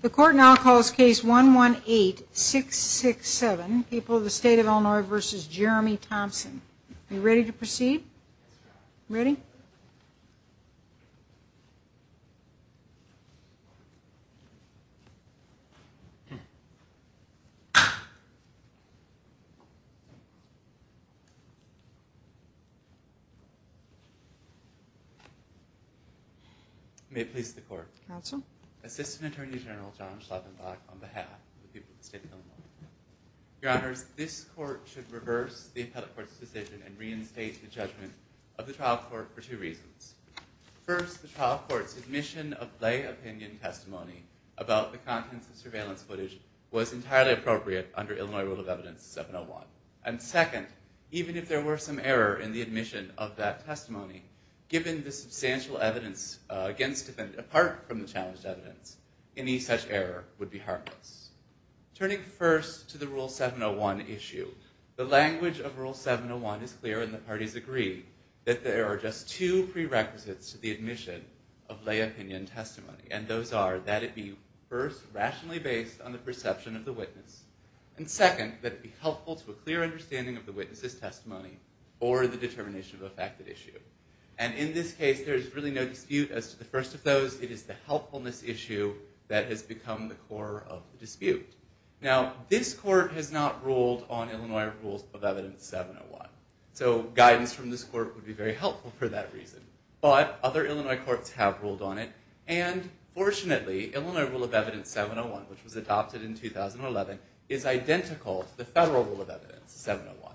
The Court now calls Case 118-667, People of the State of Illinois v. Jeremy Thompson. Are you ready to proceed? Ready? May it please the Court. Counsel. Assistant Attorney General John Schlafenbach on behalf of the people of the State of Illinois. Your Honors, this Court should reverse the Appellate Court's decision and reinstate the judgment of the Trial Court for two reasons. First, the Trial Court's admission of lay opinion testimony about the contents of surveillance footage was entirely appropriate under Illinois Rule of Evidence 701. And second, even if there were some error in the admission of that testimony, given the substantial evidence against it, apart from the challenged evidence, any such error would be harmless. Turning first to the Rule 701 issue, the language of Rule 701 is clear and the parties agree that there are just two prerequisites to the admission of lay opinion testimony, and those are that it be first, rationally based on the perception of the witness, and second, that it be helpful to a clear understanding of the witness's testimony or the determination of a fact that issue. And in this case, there is really no dispute as to the first of those. It is the helpfulness issue that has become the core of the dispute. Now, this Court has not ruled on Illinois Rule of Evidence 701, so guidance from this Court would be very helpful for that reason. But other Illinois Courts have ruled on it, and fortunately, Illinois Rule of Evidence 701, which was adopted in 2011, is identical to the Federal Rule of Evidence 701.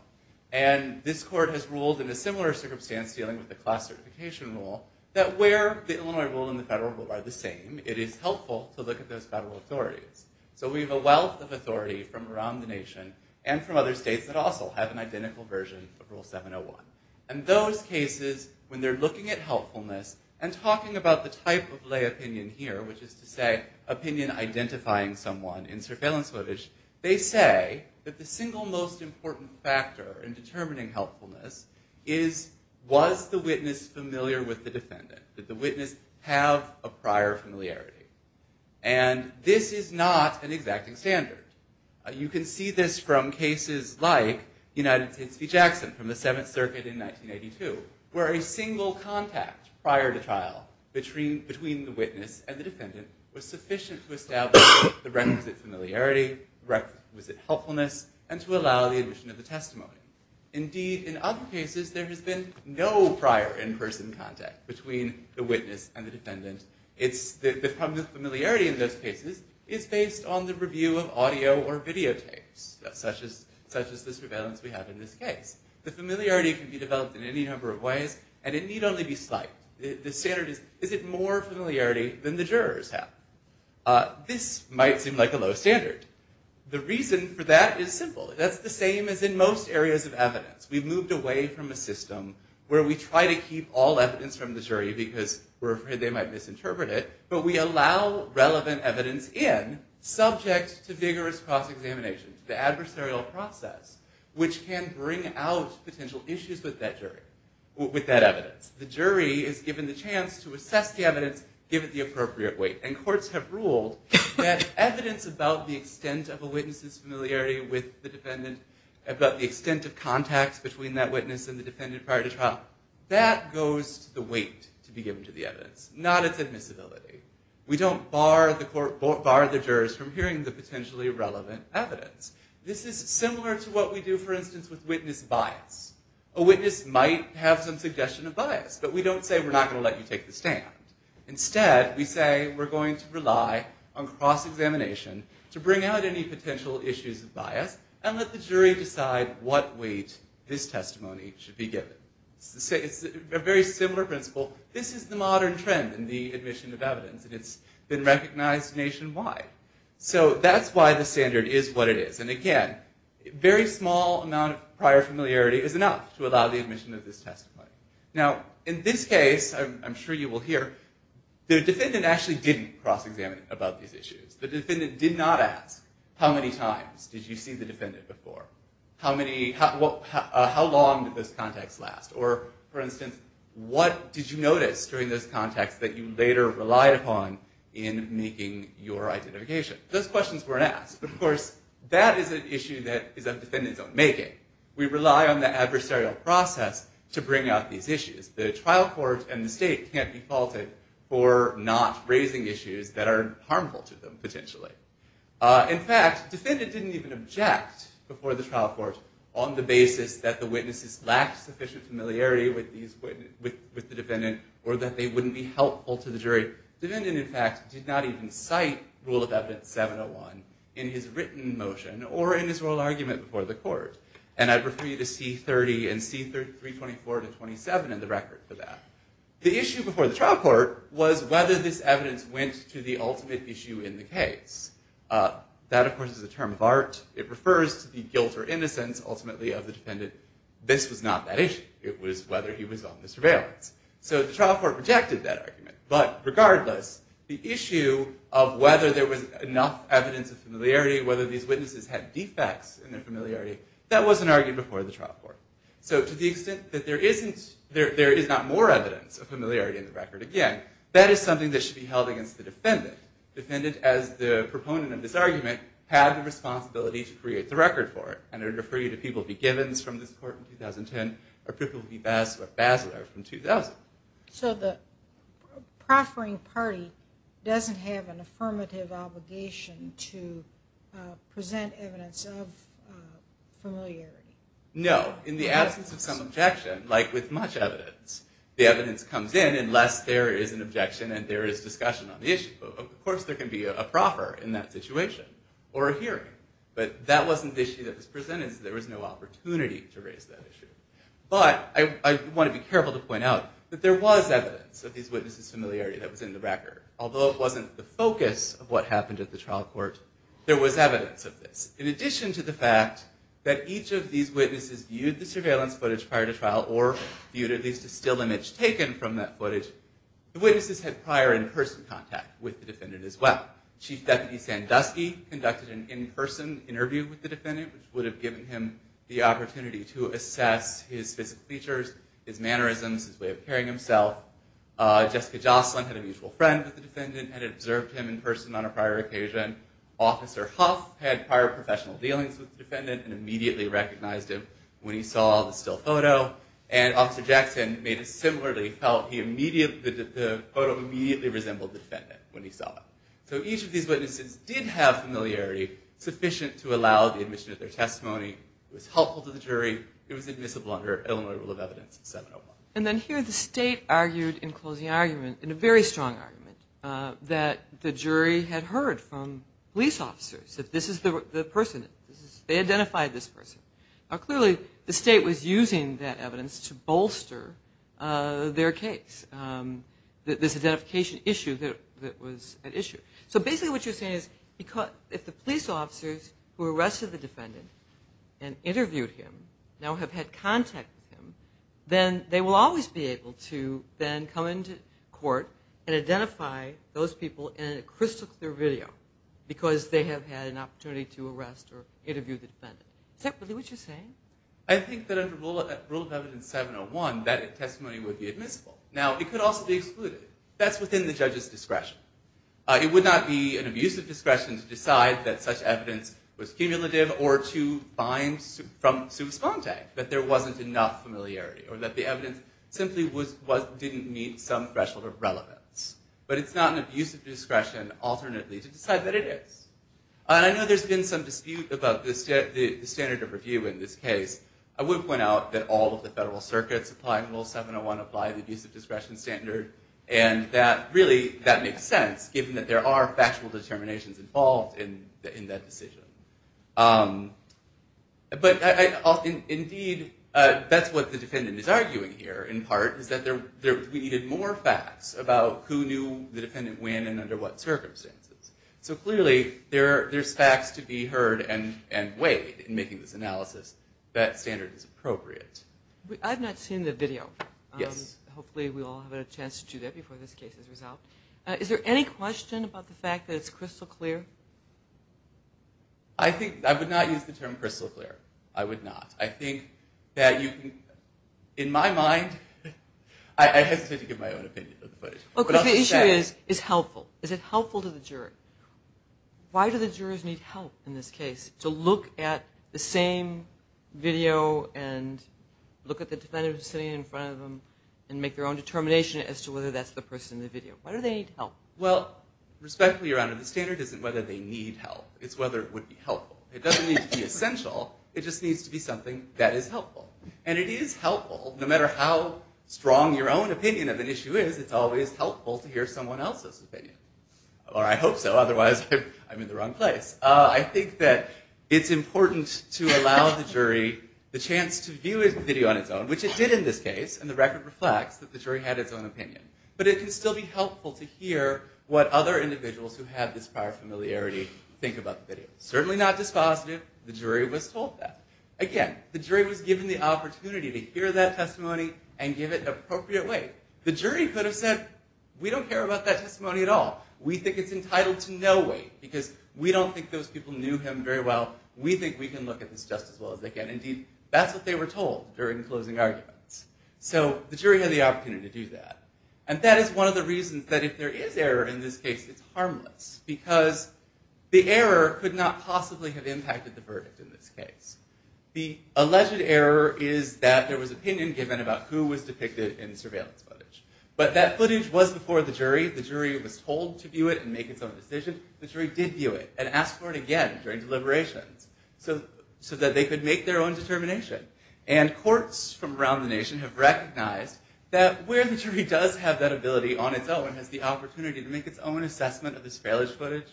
And this Court has ruled in a similar circumstance dealing with the Class Certification Rule, that where the Illinois Rule and the Federal Rule are the same, it is helpful to look at those federal authorities. So we have a wealth of authority from around the nation and from other states that also have an identical version of Rule 701. And those cases, when they're looking at helpfulness and talking about the type of lay opinion here, which is to say, opinion identifying someone in surveillance footage, they say that the single most important factor in determining helpfulness is, was the witness familiar with the defendant? Did the witness have a prior familiarity? And this is not an exacting standard. You can see this from cases like United States v. Jackson from the Seventh Circuit in 1982, where a single contact prior to trial between the witness and the defendant was sufficient to establish the requisite familiarity, requisite helpfulness, and to allow the admission of the testimony. Indeed, in other cases, there has been no prior in-person contact between the witness and the defendant. The familiarity in those cases is based on the review of audio or videotapes, such as this surveillance we have in this case. The familiarity can be developed in any number of ways, and it need only be slight. The standard is, is it more familiarity than the jurors have? This might seem like a low standard. The reason for that is simple. That's the same as in most areas of evidence. We've moved away from a system where we try to keep all evidence from the jury because we're afraid they might misinterpret it, but we allow relevant evidence in subject to vigorous cross-examination, the adversarial process, which can bring out potential issues with that jury, with that evidence. The jury is given the chance to assess the evidence, give it the appropriate weight. And courts have ruled that evidence about the extent of a witness's familiarity with the defendant, about the extent of contacts between that witness and the defendant prior to trial, that goes to the weight to be given to the evidence, not its admissibility. We don't bar the jurors from hearing the potentially relevant evidence. This is similar to what we do, for instance, with witness bias. A witness might have some suggestion of bias, but we don't say we're not going to let you take the stand. Instead, we say we're going to rely on cross-examination to bring out any potential issues of bias and let the jury decide what weight this testimony should be given. It's a very similar principle. This is the modern trend in the admission of evidence, and it's been recognized nationwide. So that's why the standard is what it is. And again, a very small amount of prior familiarity is enough to allow the admission of this testimony. Now, in this case, I'm sure you will hear, the defendant actually didn't cross-examine about these issues. The defendant did not ask, how many times did you see the defendant before? How long did those contacts last? Or, for instance, what did you notice during those contacts that you later relied upon in making your identification? Those questions weren't asked. Of course, that is an issue that defendants don't make it. We rely on the adversarial process to bring out these issues. The trial court and the state can't be faulted for not raising issues that are harmful to them, potentially. In fact, the defendant didn't even object before the trial court on the basis that the witnesses lacked sufficient familiarity with the defendant or that they wouldn't be helpful to the jury. The defendant, in fact, did not even cite Rule of Evidence 701 in his written motion or in his oral argument before the court. And I'd refer you to C30 and C324 to 27 in the record for that. The issue before the trial court was whether this evidence went to the ultimate issue in the case. That, of course, is a term of art. It refers to the guilt or innocence, ultimately, of the defendant. This was not that issue. It was whether he was on the surveillance. So the trial court rejected that argument. But regardless, the issue of whether there was enough evidence of familiarity, whether these witnesses had defects in their familiarity, that wasn't argued before the trial court. So to the extent that there is not more evidence of familiarity in the record, again, that is something that should be held against the defendant. Defendant, as the proponent of this argument, had the responsibility to create the record for it. And I'd refer you to People v. Givens from this court in 2010 or People v. Basler from 2000. So the proffering party doesn't have an affirmative obligation to present evidence of familiarity? No. In the absence of some objection, like with much evidence, the evidence comes in unless there is an objection and there is discussion on the issue. Of course, there can be a proffer in that situation or a hearing. But that wasn't the issue that was presented, so there was no opportunity to raise that issue. But I want to be careful to point out that there was evidence of these witnesses' familiarity that was in the record. Although it wasn't the focus of what happened at the trial court, there was evidence of this. In addition to the fact that each of these witnesses viewed the surveillance footage prior to trial or viewed at least a still image taken from that footage, the witnesses had prior in-person contact with the defendant as well. Chief Deputy Sandusky conducted an in-person interview with the defendant, which would have given him the opportunity to assess his physical features, his mannerisms, his way of carrying himself. Jessica Jocelyn had a mutual friend with the defendant and had observed him in person on a prior occasion. Officer Huff had prior professional dealings with the defendant and immediately recognized him when he saw the still photo. And Officer Jackson made it similarly felt that the photo immediately resembled the defendant when he saw it. So each of these witnesses did have familiarity sufficient to allow the admission of their testimony. It was helpful to the jury. It was admissible under Illinois Rule of Evidence 701. And then here the state argued in closing argument, in a very strong argument, that the jury had heard from police officers that this is the person. They identified this person. Now clearly the state was using that evidence to bolster their case, this identification issue that was at issue. So basically what you're saying is if the police officers who arrested the defendant and interviewed him now have had contact with him, then they will always be able to then come into court and identify those people in a crystal clear video because they have had an opportunity to arrest or interview the defendant. Is that really what you're saying? I think that under Rule of Evidence 701, that testimony would be admissible. Now it could also be excluded. That's within the judge's discretion. It would not be an abusive discretion to decide that such evidence was cumulative or to find from sui sponte, that there wasn't enough familiarity or that the evidence simply didn't meet some threshold of relevance. But it's not an abusive discretion alternately to decide that it is. I know there's been some dispute about the standard of review in this case. I would point out that all of the federal circuits applying Rule 701 apply the abusive discretion standard, and really that makes sense given that there are factual determinations involved in that decision. But indeed that's what the defendant is arguing here in part is that we needed more facts about who knew the defendant when and under what circumstances. So clearly there's facts to be heard and weighed in making this analysis that standard is appropriate. I've not seen the video. Yes. Hopefully we'll all have a chance to do that before this case is resolved. Is there any question about the fact that it's crystal clear? I would not use the term crystal clear. I would not. I think that you can, in my mind, I hesitate to give my own opinion. The issue is helpful. Is it helpful to the jury? Why do the jurors need help in this case to look at the same video and look at the defendant sitting in front of them and make their own determination as to whether that's the person in the video? Why do they need help? Well, respectfully, Your Honor, the standard isn't whether they need help. It's whether it would be helpful. It doesn't need to be essential. It just needs to be something that is helpful. And it is helpful. No matter how strong your own opinion of an issue is, it's always helpful to hear someone else's opinion. Or I hope so. Otherwise, I'm in the wrong place. I think that it's important to allow the jury the chance to view the video on its own, which it did in this case, and the record reflects that the jury had its own opinion. But it can still be helpful to hear what other individuals who have this prior familiarity think about the video. Certainly not dispositive. The jury was told that. Again, the jury was given the opportunity to hear that testimony and give it appropriate weight. The jury could have said, we don't care about that testimony at all. We think it's entitled to no weight because we don't think those people knew him very well. We think we can look at this just as well as they can. Indeed, that's what they were told during the closing arguments. So the jury had the opportunity to do that. And that is one of the reasons that if there is error in this case, it's harmless because the error could not possibly have impacted the verdict in this case. The alleged error is that there was opinion given about who was depicted in the surveillance footage. But that footage was before the jury. The jury was told to view it and make its own decision. The jury did view it and asked for it again during deliberations so that they could make their own determination. And courts from around the nation have recognized that where the jury does have that ability on its own, has the opportunity to make its own assessment of this failure footage,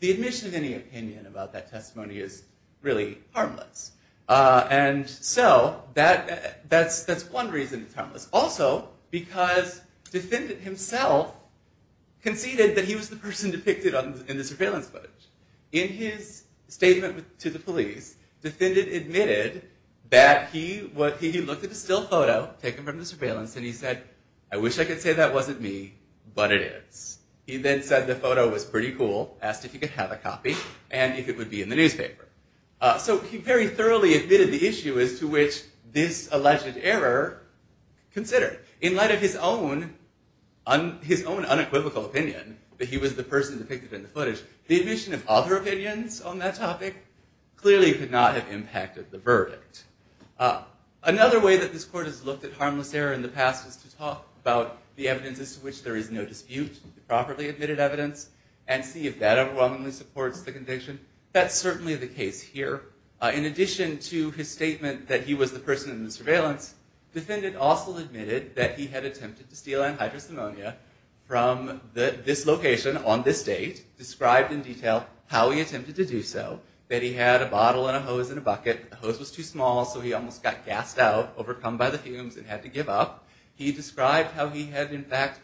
the admission of any opinion about that testimony is really harmless. And so that's one reason it's harmless. Also, because the defendant himself conceded that he was the person depicted in the surveillance footage. In his statement to the police, the defendant admitted that he looked at the still photo taken from the surveillance and he said, I wish I could say that wasn't me, but it is. He then said the photo was pretty cool, asked if he could have a copy, and if it would be in the newspaper. So he very thoroughly admitted the issue as to which this alleged error considered. In light of his own unequivocal opinion that he was the person depicted in the footage, the admission of other opinions on that topic clearly could not have impacted the verdict. Another way that this court has looked at harmless error in the past is to talk about the evidences to which there is no dispute, the properly admitted evidence, and see if that overwhelmingly supports the conviction. That's certainly the case here. In addition to his statement that he was the person in the surveillance, the defendant also admitted that he had attempted to steal anhydrous ammonia from this location on this date, described in detail how he attempted to do so, that he had a bottle and a hose in a bucket, the hose was too small so he almost got gassed out, overcome by the fumes and had to give up. He described how he had in fact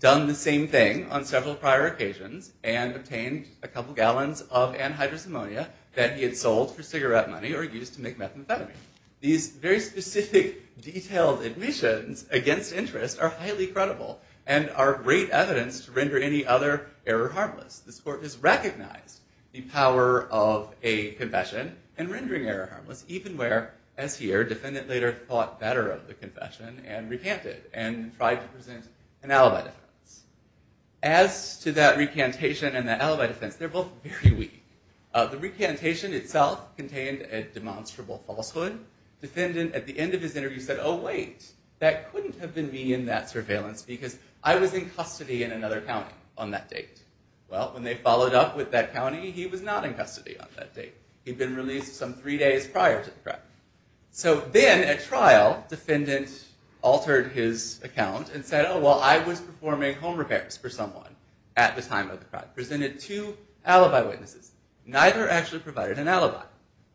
done the same thing on several prior occasions and obtained a couple gallons of anhydrous ammonia that he had sold for cigarette money or used to make methamphetamine. These very specific, detailed admissions against interest are highly credible and are great evidence to render any other error harmless. This court has recognized the power of a confession and rendering error harmless, even where, as here, defendant later thought better of the confession and recanted and tried to present an alibi defense. As to that recantation and that alibi defense, they're both very weak. The recantation itself contained a demonstrable falsehood. Defendant at the end of his interview said, oh wait, that couldn't have been me in that surveillance because I was in custody in another county on that date. Well, when they followed up with that county, he was not in custody on that date. He'd been released some three days prior to the crime. So then at trial, defendant altered his account and said, oh, well, I was performing home repairs for someone at the time of the crime. Presented two alibi witnesses. Neither actually provided an alibi.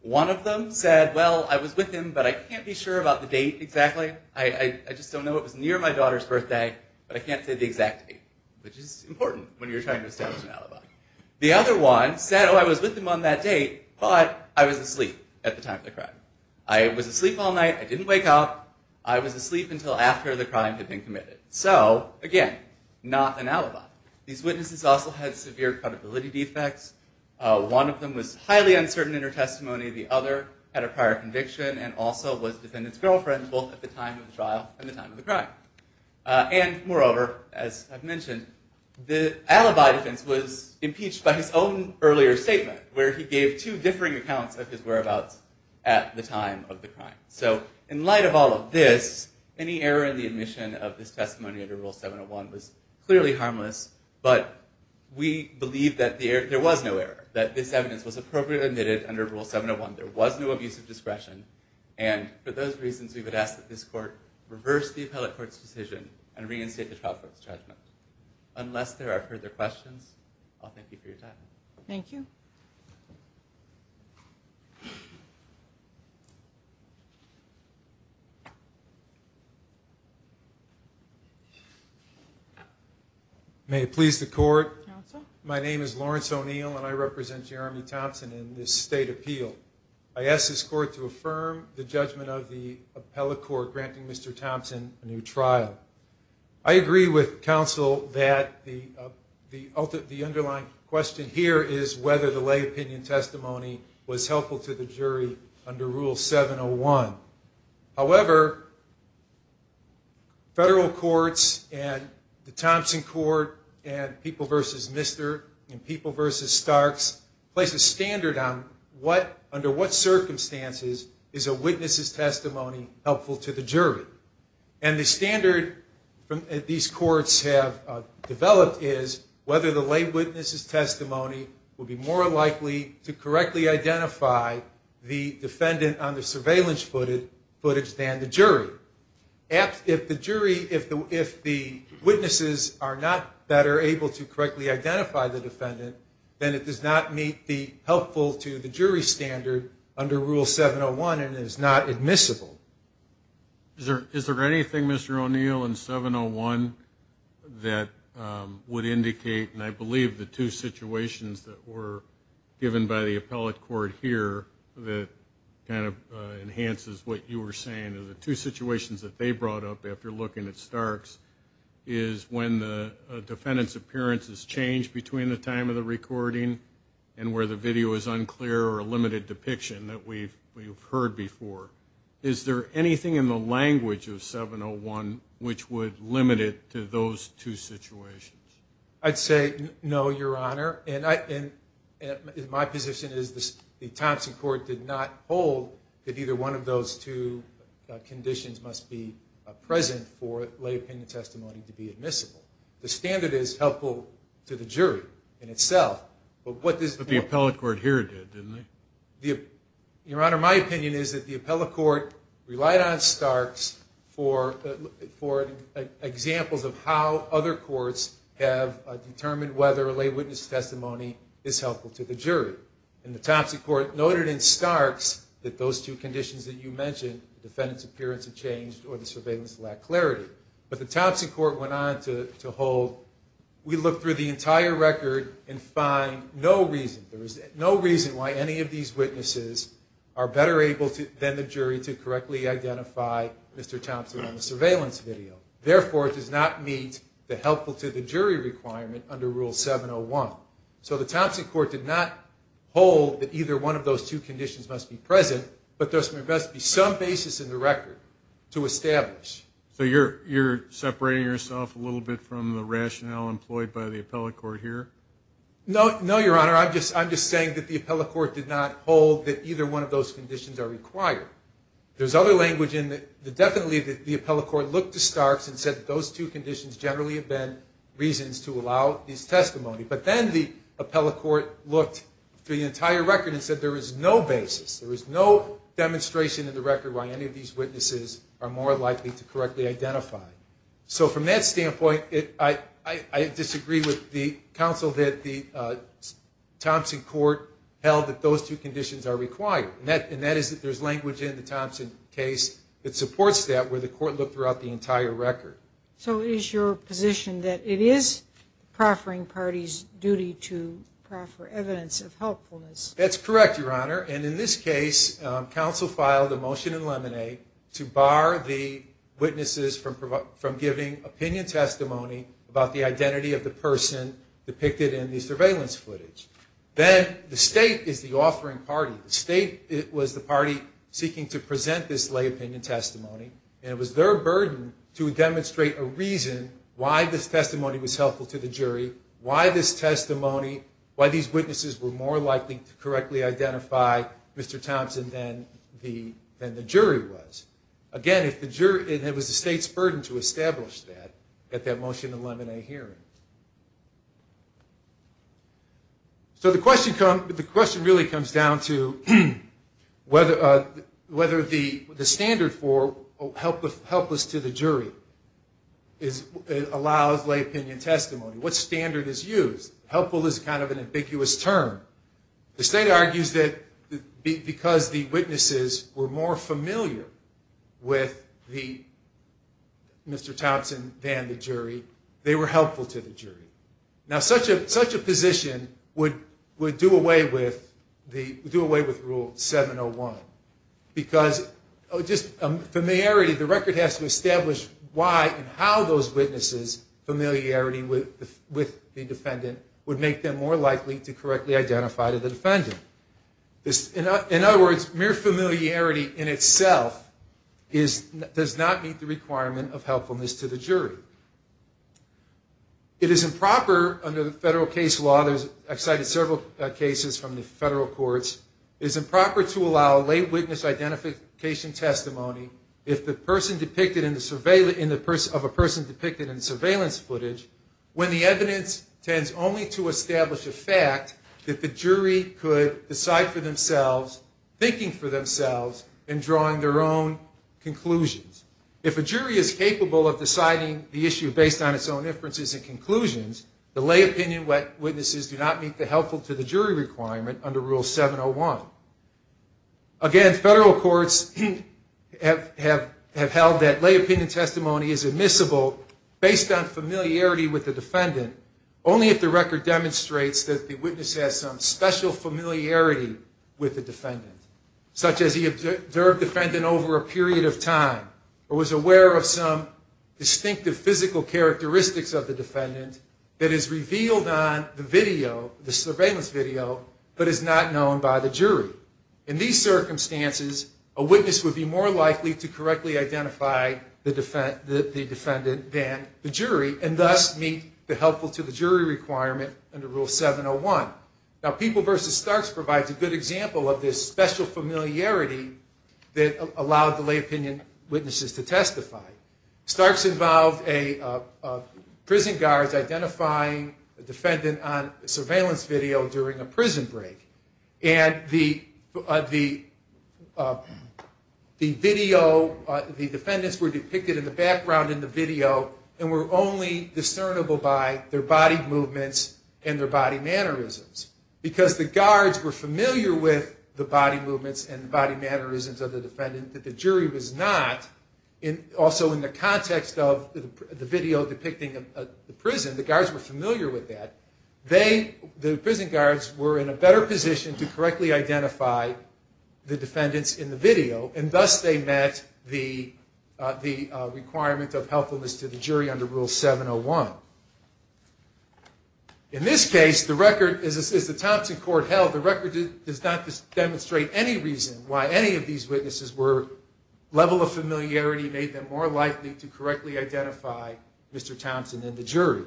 One of them said, well, I was with him, but I can't be sure about the date exactly. I just don't know. It was near my daughter's birthday, but I can't say the exact date, which is important when you're trying to establish an alibi. The other one said, oh, I was with him on that date, but I was asleep at the time of the crime. I was asleep all night. I didn't wake up. I was asleep until after the crime had been committed. So again, not an alibi. These witnesses also had severe credibility defects. One of them was highly uncertain in her testimony. The other had a prior conviction and also was defendant's girlfriend, both at the time of the trial and the time of the crime. And moreover, as I've mentioned, the alibi defense was impeached by his own earlier statement, where he gave two differing accounts of his whereabouts at the time of the crime. So in light of all of this, any error in the admission of this testimony under Rule 701 was clearly harmless, but we believe that there was no error, that this evidence was appropriately admitted under Rule 701. There was no abuse of discretion, and for those reasons, we would ask that this court reverse the appellate court's decision and reinstate the trial court's judgment. Unless there are further questions, I'll thank you for your time. Thank you. May it please the court. My name is Lawrence O'Neill, and I represent Jeremy Thompson in this state appeal. I ask this court to affirm the judgment of the appellate court granting Mr. Thompson a new trial. I agree with counsel that the underlying question here is whether the lay opinion testimony was helpful to the jury under Rule 701. However, federal courts and the Thompson court and People v. Mr. and People v. Starks place a standard on under what circumstances is a witness's testimony helpful to the jury. And the standard these courts have developed is whether the lay witness's testimony would be more likely to correctly identify the defendant on the surveillance footage than the defendant on the surveillance footage than the jury. If the witnesses are not better able to correctly identify the defendant, then it does not meet the helpful to the jury standard under Rule 701 and is not admissible. Is there anything, Mr. O'Neill, in 701 that would indicate, and I believe the two situations that were given by the appellate court here that kind of enhances what you were saying, are the two situations that they brought up after looking at Starks is when the defendant's appearance is changed between the time of the recording and where the video is unclear or a limited depiction that we've heard before. Is there anything in the language of 701 which would limit it to those two situations? I'd say no, Your Honor. And my position is the Thompson Court did not hold that either one of those two conditions must be present for lay opinion testimony to be admissible. The standard is helpful to the jury in itself. But what this court... But the appellate court here did, didn't they? Your Honor, my opinion is that the appellate court relied on Starks for examples of how other courts have determined whether a lay witness testimony is helpful to the jury. And the Thompson Court noted in Starks that those two conditions that you mentioned, the defendant's appearance had changed or the surveillance lacked clarity. But the Thompson Court went on to hold, we looked through the entire record and find no reason, there is no reason why any of these witnesses are better able than the jury to correctly identify Mr. Thompson on the record. Therefore, it does not meet the helpful to the jury requirement under Rule 701. So the Thompson Court did not hold that either one of those two conditions must be present, but there must be some basis in the record to establish. So you're separating yourself a little bit from the rationale employed by the appellate court here? No, Your Honor, I'm just saying that the appellate court did not hold that either one of those conditions are required. There's other language in it that definitely the appellate court looked to Starks and said those two conditions generally have been reasons to allow this testimony. But then the appellate court looked through the entire record and said there is no basis, there is no demonstration in the record why any of these witnesses are more likely to correctly identify. So from that standpoint, I disagree with the counsel that the Thompson Court held that those two conditions are required. And that is that there's language in the Thompson case that supports that where the court looked throughout the entire record. So it is your position that it is the proffering party's duty to proffer evidence of helpfulness? That's correct, Your Honor. And in this case, counsel filed a motion in Lemonade to bar the witnesses from giving opinion testimony about the identity of the person depicted in the surveillance footage. Then the state is the offering party. The state was the party seeking to present this lay opinion testimony. And it was their burden to demonstrate a reason why this testimony was helpful to the jury, why this testimony, why these witnesses were more likely to correctly identify Mr. Thompson than the jury was. Again, it was the state's burden to establish that at that motion in Lemonade hearing. So the question really comes down to, whether the standard for helplessness to the jury allows lay opinion testimony. What standard is used? Helpful is kind of an ambiguous term. The state argues that because the witnesses were more familiar with Mr. Thompson than the jury, they were helpful to the jury. such a position would do away with the evidence of helpfulness. The record has to establish why and how those witnesses' familiarity with the defendant would make them more likely to correctly identify the defendant. In other words, mere familiarity in itself does not meet the requirement of helpfulness to the jury. It is improper under the federal case law, it is improper under the federal case law, it is improper to allow lay witness identification testimony of a person depicted in surveillance footage when the evidence tends only to establish a fact that the jury could decide for themselves, thinking for themselves, and drawing their own conclusions. If a jury is capable of deciding the issue based on its own inferences and conclusions, the lay opinion witnesses do not meet the helpful to the jury requirement under Rule 701. Again, federal courts have held that lay opinion testimony is admissible based on familiarity with the defendant, only if the record demonstrates that the witness has some special familiarity with the defendant, such as he observed the defendant over a period of time or was aware of some distinctive physical characteristics of the defendant that is revealed on the surveillance video but is not known by the jury. In these circumstances, a witness would be more likely to correctly identify the defendant than the jury and thus meet the helpful to the jury requirement under Rule 701. Now, People v. Starks provides a good example of this special familiarity that allowed the lay opinion witnesses to testify. Starks involved a prison guard identifying a defendant on surveillance video during a prison break. The defendants were depicted in the background in the video and were only discernible by their body movements and their body mannerisms. Because the guards were familiar with the body movements and the body mannerisms of the defendant that the jury was not, also in the context of the video depicting the prison, the guards were familiar with that. They, the prison guards, were in a better position to correctly identify the defendants in the video and thus they met the requirement of helpfulness to the jury under Rule 701. In this case, the record, as the Thompson Court held, the record does not demonstrate any reason why any of these witnesses were, level of familiarity made them more likely to correctly identify Mr. Thompson than the jury.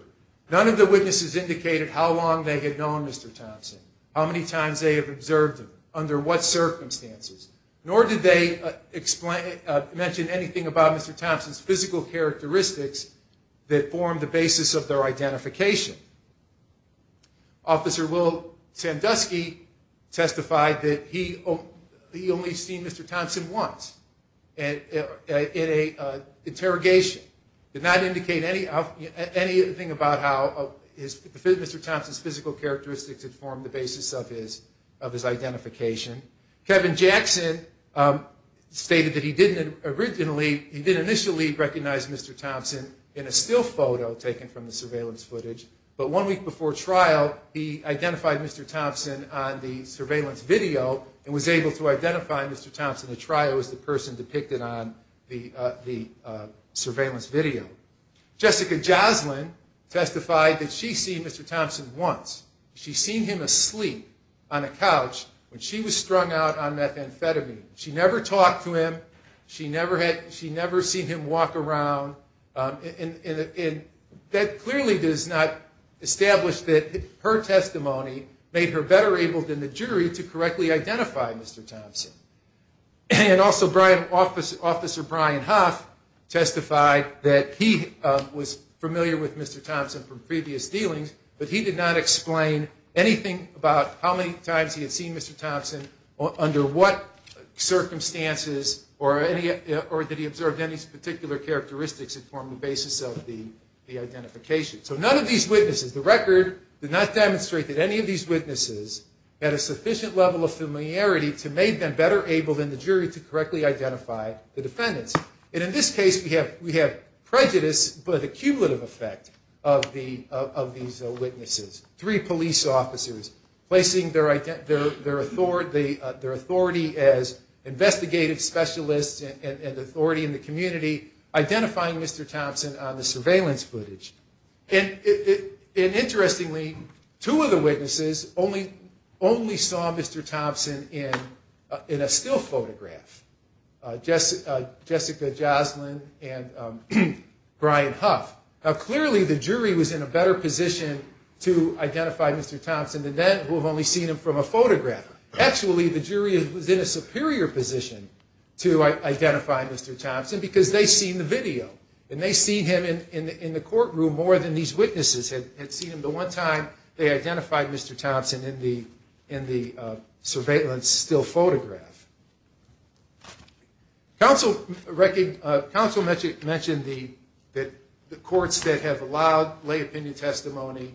None of the witnesses indicated how long they had known Mr. Thompson, how many times they had observed him, under what circumstances, nor did they explain, mention anything about Mr. Thompson's physical characteristics that formed the basis of their identification. Officer Will Sandusky testified that he only seen Mr. Thompson once in an interrogation. Did not indicate anything about how Mr. Thompson's physical characteristics had formed the basis of his identification. Kevin Jackson stated that he didn't originally, he didn't initially recognize Mr. Thompson in a still photo taken from the surveillance footage, but one week before trial he identified Mr. Thompson on the surveillance video and was able to identify Mr. Thompson at trial as the person depicted on the surveillance video. Jessica Joslyn testified that she seen Mr. Thompson once. She seen him asleep on a couch when she was strung out on methamphetamine. She never talked to him, she never seen him walk around, and that clearly does not establish that her testimony made her better able than the jury to correctly identify Mr. Thompson. And also Officer Brian Huff testified that he was familiar with Mr. Thompson from previous dealings, but he did not explain anything about how many times he had seen Mr. Thompson, under what circumstances, or did he observe any particular characteristics that formed the basis of the identification. So none of these witnesses, the record did not demonstrate that any of these witnesses had a sufficient level of familiarity to make them better able than the jury to correctly identify the defendants. And in this case we have prejudice, but a cumulative effect of these witnesses. Three police officers placing their authority as investigative specialists and authority in the community, identifying Mr. Thompson on the surveillance footage. And interestingly, two of the witnesses only saw Mr. Thompson in the surveillance still photograph, Jessica Joslyn and Brian Huff. Now clearly the jury was in a better position to identify Mr. Thompson than that who have only seen him from a photograph. Actually, the jury was in a superior position to identify Mr. Thompson because they seen the video and they seen him in the courtroom more than these witnesses had seen him. The one time they identified Mr. Thompson in the surveillance still photograph. Council mentioned that the courts that have allowed lay opinion testimony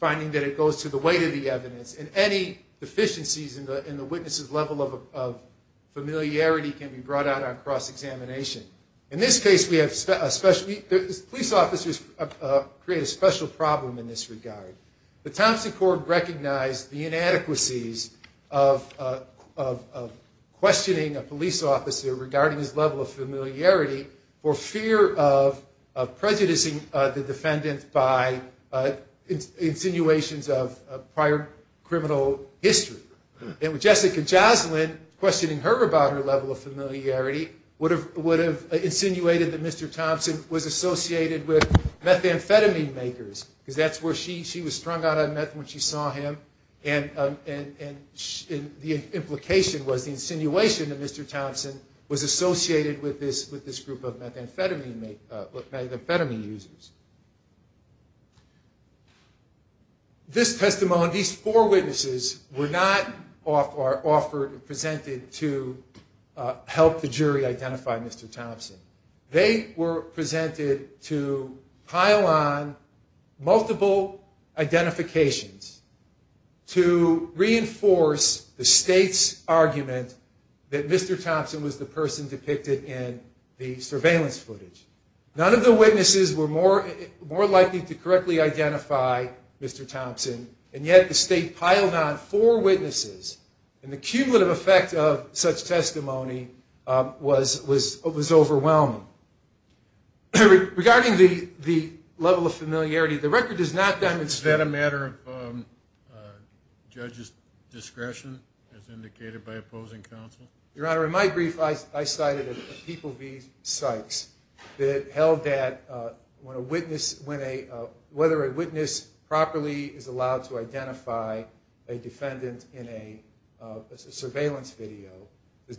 finding that it goes to the weight of the evidence and any deficiencies in the witnesses' level of familiarity can be brought out on cross examination. In this case we have a special, police officers create a special problem in this regard. The Thompson court recognized the presented to the jury in this case. And in this case we have a special will of questioning a police officer regarding his level of familiarity for fear of prejudicing the defendants by insinuations of prior criminal history. Jessica Joslyn, questioning her about her level of familiarity would have insinuated that Mr. Thompson was associated with methamphetamine makers because that's where she was strung out on metham and the inhibition. The implication was the insinuation that Mr. Thompson was associated with this group of methamphetamine users. These four witnesses were not presented to help the jury identify Mr. Thompson. They were presented to pile on multiple identifications to reinforce the state's argument that Mr. Thompson was the person depicted in the surveillance footage. None of the witnesses were more likely to correctly identify Mr. Thompson, and yet the state piled on four witnesses, and the cumulative effect of such testimony was overwhelming. Regarding the level of familiarity, the record does not demonstrate that Mr. Thompson was associated with methamphetamine makers. In my brief, I cited a People v. Sykes that held that whether a witness properly is allowed to identify a defendant in a surveillance video,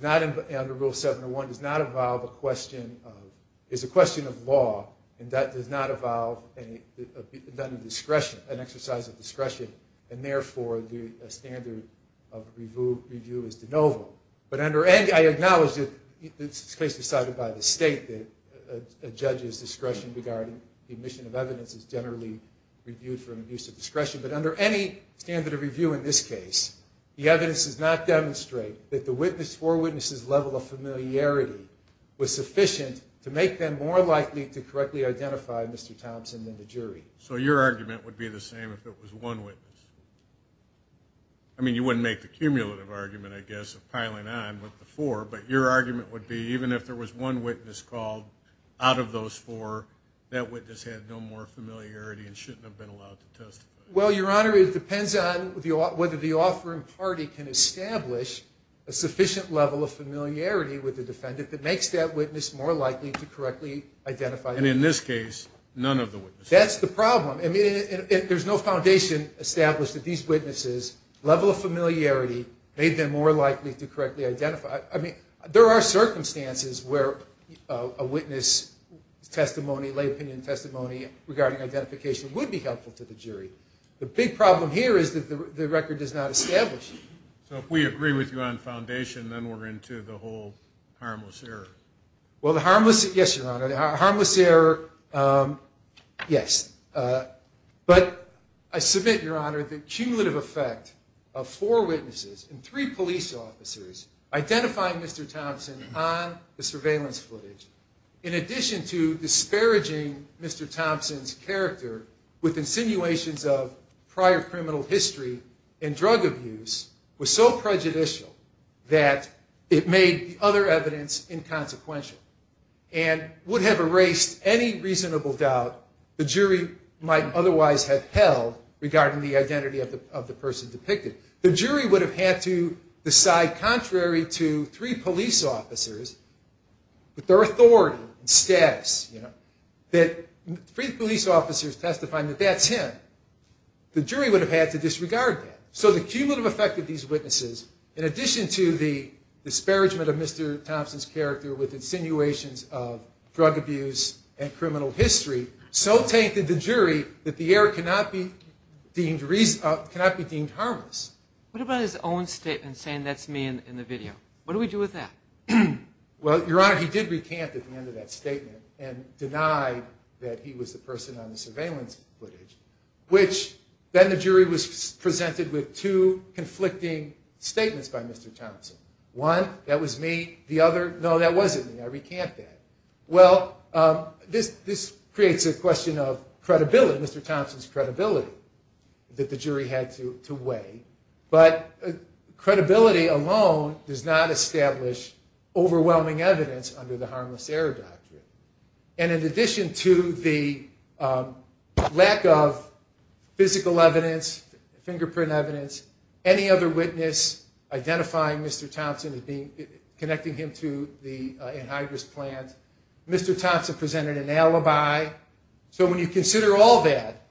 under Rule 701, does not involve a question of law, and that does not involve an exercise of discretion, and therefore, the standard of review is de novo. I acknowledge that this case was cited by the state that a judge's discretion regarding the admission of evidence is generally reviewed for an abuse of discretion, but under any standard of review in this case, the evidence does not demonstrate that the four witnesses' level of familiarity was sufficient to make them more likely to correctly identify Mr. Thompson than the jury. So your argument would be the same if it was one witness? I mean, you wouldn't make the cumulative argument, I guess, of piling on with the four, but your argument would be even if there was one witness called out of those four, that witness had no more familiarity and shouldn't have been allowed to testify? Well, Your Honor, it depends on whether the offering party can establish a sufficient level of familiarity with the defendant that makes that witness more likely to correctly identify them. And in this case, none of the witnesses? That's the problem. I mean, there's no foundation established that these witnesses' level of familiarity made them more likely to correctly identify. I mean, there are circumstances where a witness' testimony, lay opinion testimony regarding identification would be helpful to the jury. The big problem here is that the record does not establish that. So if we agree with you on foundation, then we're into the whole harmless error. Well, the harmless error, yes, but I submit, Your Honor, the cumulative effect of four witnesses and three police officers identifying Mr. Thompson on the surveillance footage, in addition to disparaging Mr. Thompson's character with insinuations of prior criminal history and drug abuse, was so prejudicial that it made the other evidence inconsequential. And I think that's the problem. The jury would have had to decide contrary to three police officers, with their authority and status, that three police officers testifying that that's him. The jury would have had to disregard that. So the cumulative effect of these witnesses, in addition to the disparagement of Mr. Thompson's character with insinuations of prior criminal history and drug abuse, so tainted the jury that the error cannot be deemed harmless. What about his own statement saying that's me in the video? What do we do with that? Well, Your Honor, he did recant at the end of that statement and deny that he was the person on the surveillance footage, which then the jury was presented with two conflicting statements by Mr. Thompson. One, that was me. The other, no, that wasn't me. I didn't do it. Well, this creates a question of credibility, Mr. Thompson's credibility, that the jury had to weigh. But credibility alone does not establish overwhelming evidence under the harmless error doctrine. And in addition to the lack of physical evidence, fingerprint evidence, any other witness identifying Mr. Thompson as being, connecting him to the anhydrous plant, any other witness identifying Mr. Thompson as being, connecting him to the anhydrous plant, Mr. Thompson presented an alibi. So when you consider all that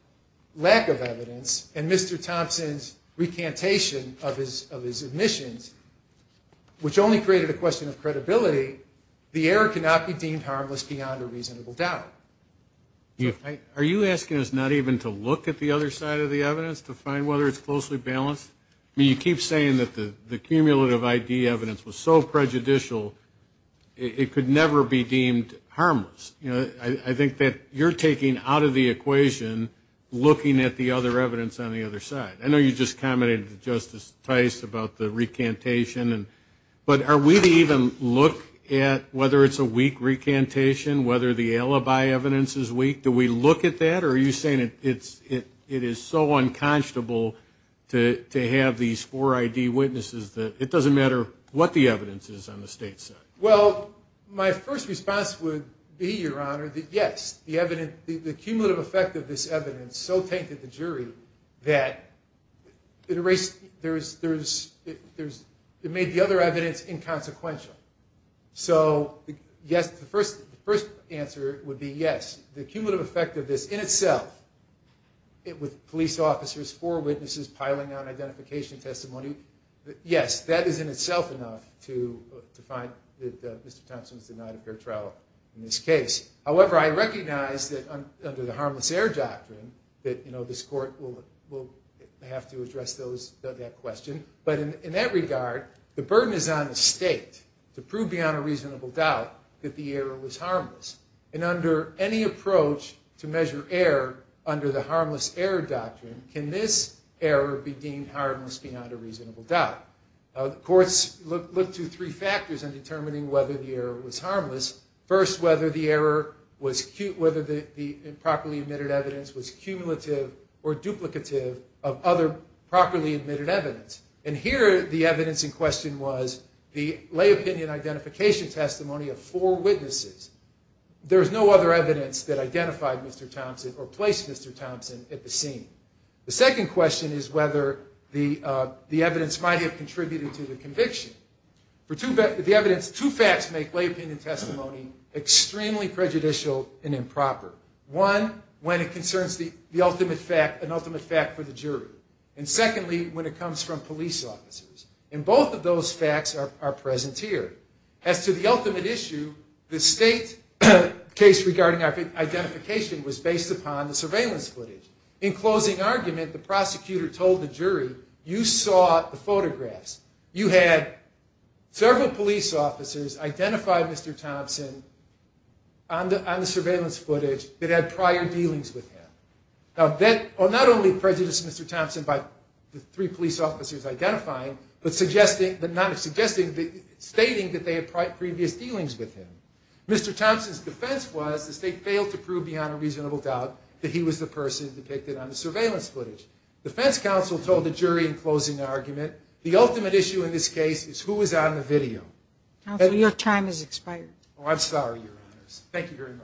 lack of evidence and Mr. Thompson's recantation of his admissions, which only created a question of credibility, the error cannot be deemed harmless beyond a reasonable doubt. Are you asking us not even to look at the other side of the evidence to find whether it's closely balanced? I mean, you keep saying that the cumulative ID evidence was so prejudicial, it could never be deemed harmless. I think that you're taking out of the equation looking at the other evidence on the other side. I know you just commented to Justice Tice about the recantation. But are we to even look at whether it's a weak recantation, whether the alibi evidence is weak? Do we look at that? Or are you saying it is so unconscionable to have these four ID witnesses that it doesn't matter what the evidence is on the state side? Well, my first response would be, Your Honor, that yes, the cumulative effect of this evidence so tainted the jury that it made the other evidence inconsequential. So yes, the first answer would be yes, the cumulative effect of this in itself, with police officers, four witnesses piling on identification testimony, yes, that is in itself inconsequential. I think that Mr. Thompson is denied a fair trial in this case. However, I recognize that under the harmless error doctrine, that this Court will have to address that question. But in that regard, the burden is on the state to prove beyond a reasonable doubt that the error was harmless. And under any approach to measure error under the harmless error doctrine, can this error be deemed harmless beyond a reasonable doubt? Courts look to three factors in determining whether the error was harmless. First, whether the error was, whether the improperly admitted evidence was cumulative or duplicative of other properly admitted evidence. And here the evidence in question was the lay opinion identification testimony of four witnesses. There is no other evidence that identified Mr. Thompson or placed Mr. Thompson at the scene. The second question is whether the evidence might have contributed to the conviction. For the evidence, two facts make lay opinion testimony extremely prejudicial and improper. One, when it concerns the ultimate fact, an ultimate fact for the jury. And secondly, when it comes from police officers. And both of those facts are present here. As to the ultimate issue, the state case regarding identification was based upon the surveillance footage. In closing argument, the prosecutor told the jury that several police officers identified Mr. Thompson on the surveillance footage that had prior dealings with him. Now, that not only prejudiced Mr. Thompson by the three police officers identifying, but suggesting, but not suggesting, but stating that they had prior previous dealings with him. Mr. Thompson's defense was the state failed to prove beyond a reasonable doubt that he was the person depicted on the surveillance footage. The defense counsel told the jury in closing argument, the ultimate issue in this case is who was on the video. Your time has expired. I'm sorry, Your Honors. Thank you very much.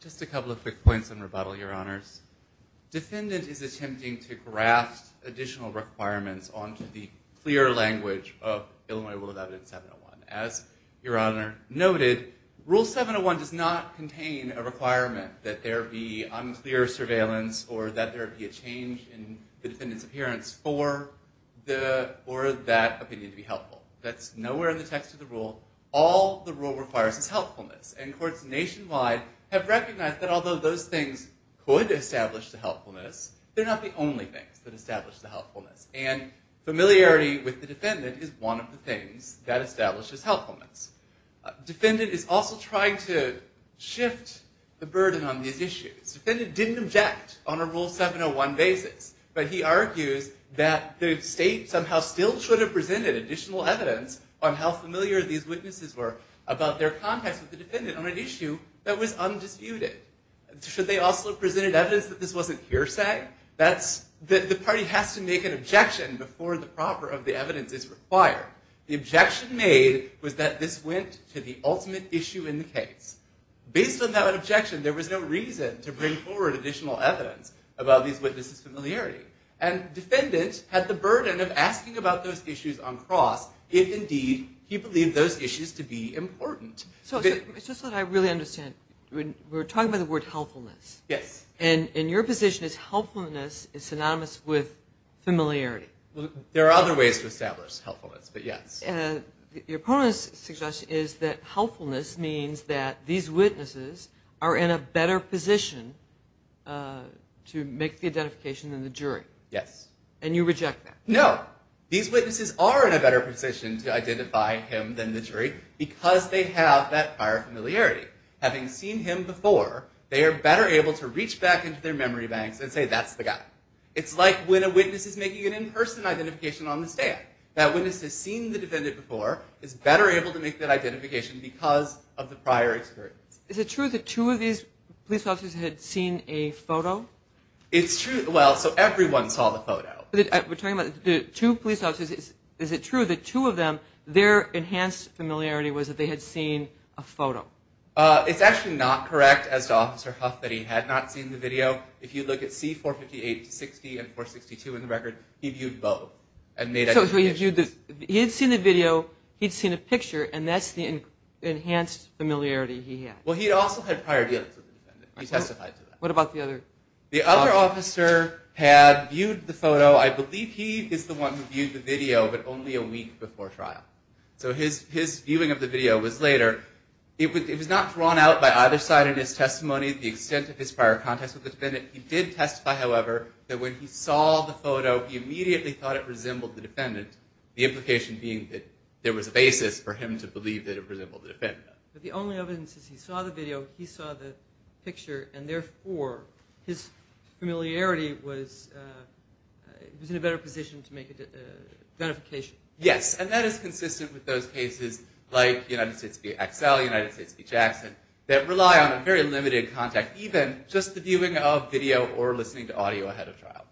Just a couple of quick points in rebuttal, Your Honors. Defendant is attempting to graft additional requirements onto the clear language of Illinois Rule of Evidence 701. As Your Honor noted, Rule 701 does not have a clear language. It does not have a clear definition of the defendant's appearance. It does not contain a requirement that there be unclear surveillance or that there be a change in the defendant's appearance for that opinion to be helpful. That's nowhere in the text of the rule. All the rule requires is helpfulness. And courts nationwide have recognized that although those things could establish the helpfulness, they're not the only things that establish the helpfulness. Defendant is also trying to shift the burden on these issues. Defendant didn't object on a Rule 701 basis, but he argues that the state somehow still should have presented additional evidence on how familiar these witnesses were about their contacts with the defendant on an issue that was undisputed. Should they also have presented evidence that this wasn't hearsay? The party has to make an objection before the proper of the evidence is required. The objection made was that this went to the ultimate issue in the case. Based on that objection, there was no reason to bring forward additional evidence about these witnesses' familiarity. And defendant had the burden of asking about those issues on cross if indeed he believed those issues to be important. So it's just that I really understand. We're talking about the word helpfulness. Yes. And your position is helpfulness is synonymous with familiarity. Your opponent's suggestion is that helpfulness means that these witnesses are in a better position to make the identification than the jury. Yes. And you reject that. No. These witnesses are in a better position to identify him than the jury because they have that prior familiarity. Having seen him before, they are better able to reach back into their memory banks and say, that's the guy. It's like when a witness is making an in-person identification on the stand. That witness has seen the defendant before, is better able to make that identification because of the prior experience. Is it true that two of these police officers had seen a photo? It's true. Well, so everyone saw the photo. We're talking about the two police officers. Is it true that two of them, their enhanced familiarity was that they had seen a photo? It's actually not correct as to Officer Huff that he had not seen the video. If you look at C458-60 and 462 in the record, he viewed both and made identifications. So he had seen the video, he had seen a picture, and that's the enhanced familiarity he had. Well, he also had prior dealings with the defendant. He testified to that. What about the other officer? The other officer had viewed the photo. I believe he is the one who viewed the video, but only a week before trial. So his viewing of the video was later. It was not drawn out by either side in his testimony the extent of his prior contacts with the defendant. He did testify, however, that when he saw the photo, he immediately thought it resembled the defendant, the implication being that there was a basis for him to believe that it resembled the defendant. But the only evidence is he saw the video, he saw the picture, and therefore his familiarity was in a better position to make a identification. Yes, and that is consistent with those cases like United States v. XL, United States v. Jackson, that rely on a very limited contact, even just the viewing of video or listening to audio ahead of trial.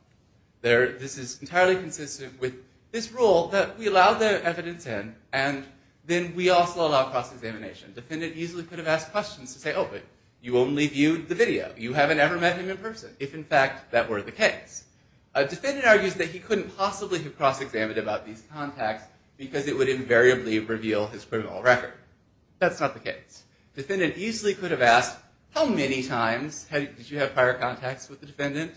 This is entirely consistent with this rule that we allow the evidence in, and then we also allow cross-examination. Defendant easily could have asked questions to say, oh, but you only viewed the video. You haven't ever met him in person, if in fact that were the case. A defendant argues that he couldn't possibly have cross-examined about these contacts because it would invariably reveal his criminal record. That's not the case. Defendant easily could have asked, how many times did you have prior contacts with the defendant?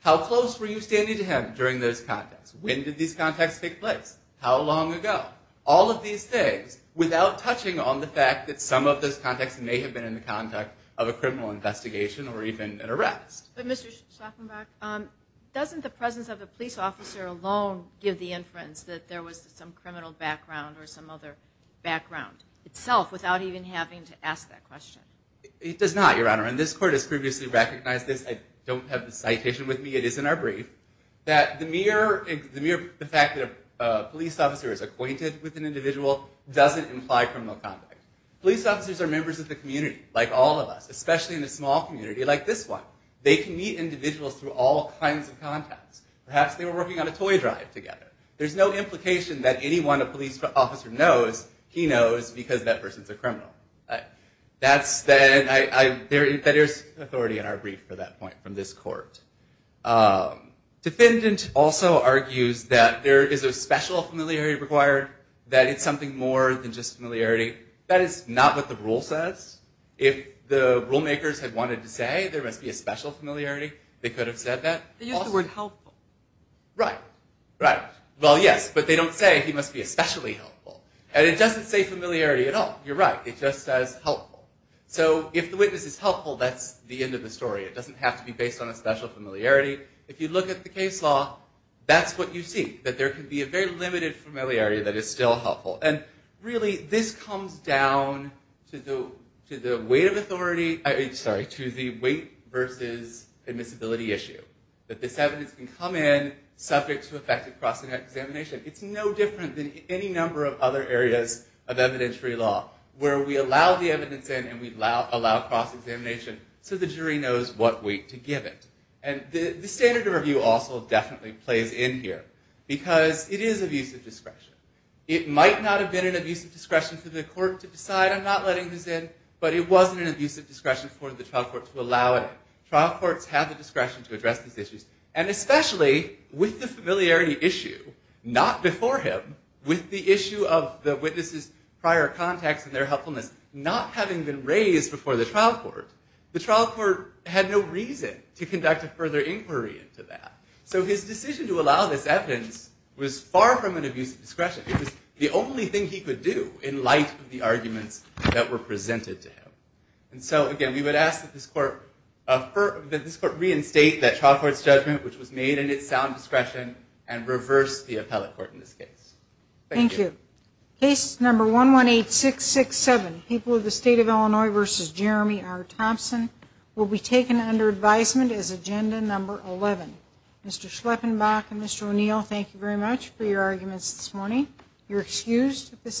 How close were you standing to him during those contacts? When did these contacts take place? How long ago? All of these things without touching on the fact that some of those contacts may have been in the context of a criminal record. Does the police officer alone give the inference that there was some criminal background or some other background itself without even having to ask that question? It does not, Your Honor. And this court has previously recognized this. I don't have the citation with me. It is in our brief. The mere fact that a police officer is acquainted with an individual doesn't imply criminal conduct. Police officers are members of the community, like all of us, especially in a small community like this where we're working on a toy drive together. There's no implication that anyone a police officer knows he knows because that person's a criminal. There's authority in our brief for that point from this court. Defendant also argues that there is a special familiarity required, that it's something more than just familiarity. That is not what the rule says. If the rule makers had wanted to say there must be a special familiarity, they could have said that. They use the word helpful. Right. Right. Well, yes, but they don't say he must be especially helpful. And it doesn't say familiarity at all. You're right. It just says helpful. So if the witness is helpful, that's the end of the story. It doesn't have to be based on a special familiarity. If you look at the case law, that's what you see, that there can be a very limited familiarity that is still helpful. And really, this comes down to the weight of authority, sorry, to the weight versus admissibility issue, that this evidence can come in subject to effective cross-examination. It's no different than any number of other areas of evidentiary law where we allow the evidence in and we allow cross-examination so the jury knows what weight to give it. And the standard of review also definitely plays in here because it is abusive discretion. It might not have been an abusive discretion for the court to decide I'm not letting this in, but it wasn't an abusive discretion for the trial court to allow it in. Trial courts have a hard time to address these issues. And especially with the familiarity issue not before him, with the issue of the witness's prior contacts and their helpfulness not having been raised before the trial court, the trial court had no reason to conduct a further inquiry into that. So his decision to allow this evidence was far from an abusive discretion. It was the only thing he could do in light of the arguments that were presented to him. And so, again, we would ask that this court reinstate that trial court's judgment which was made in its sound discretion and reverse the appellate court in this case. Thank you. Case number 118667, People of the State of Illinois v. Jeremy R. Thompson will be taken under advisement as agenda number 11. Mr. Schleppenbach and Mr. O'Neill, thank you very much for your arguments this morning. You're excused at this time.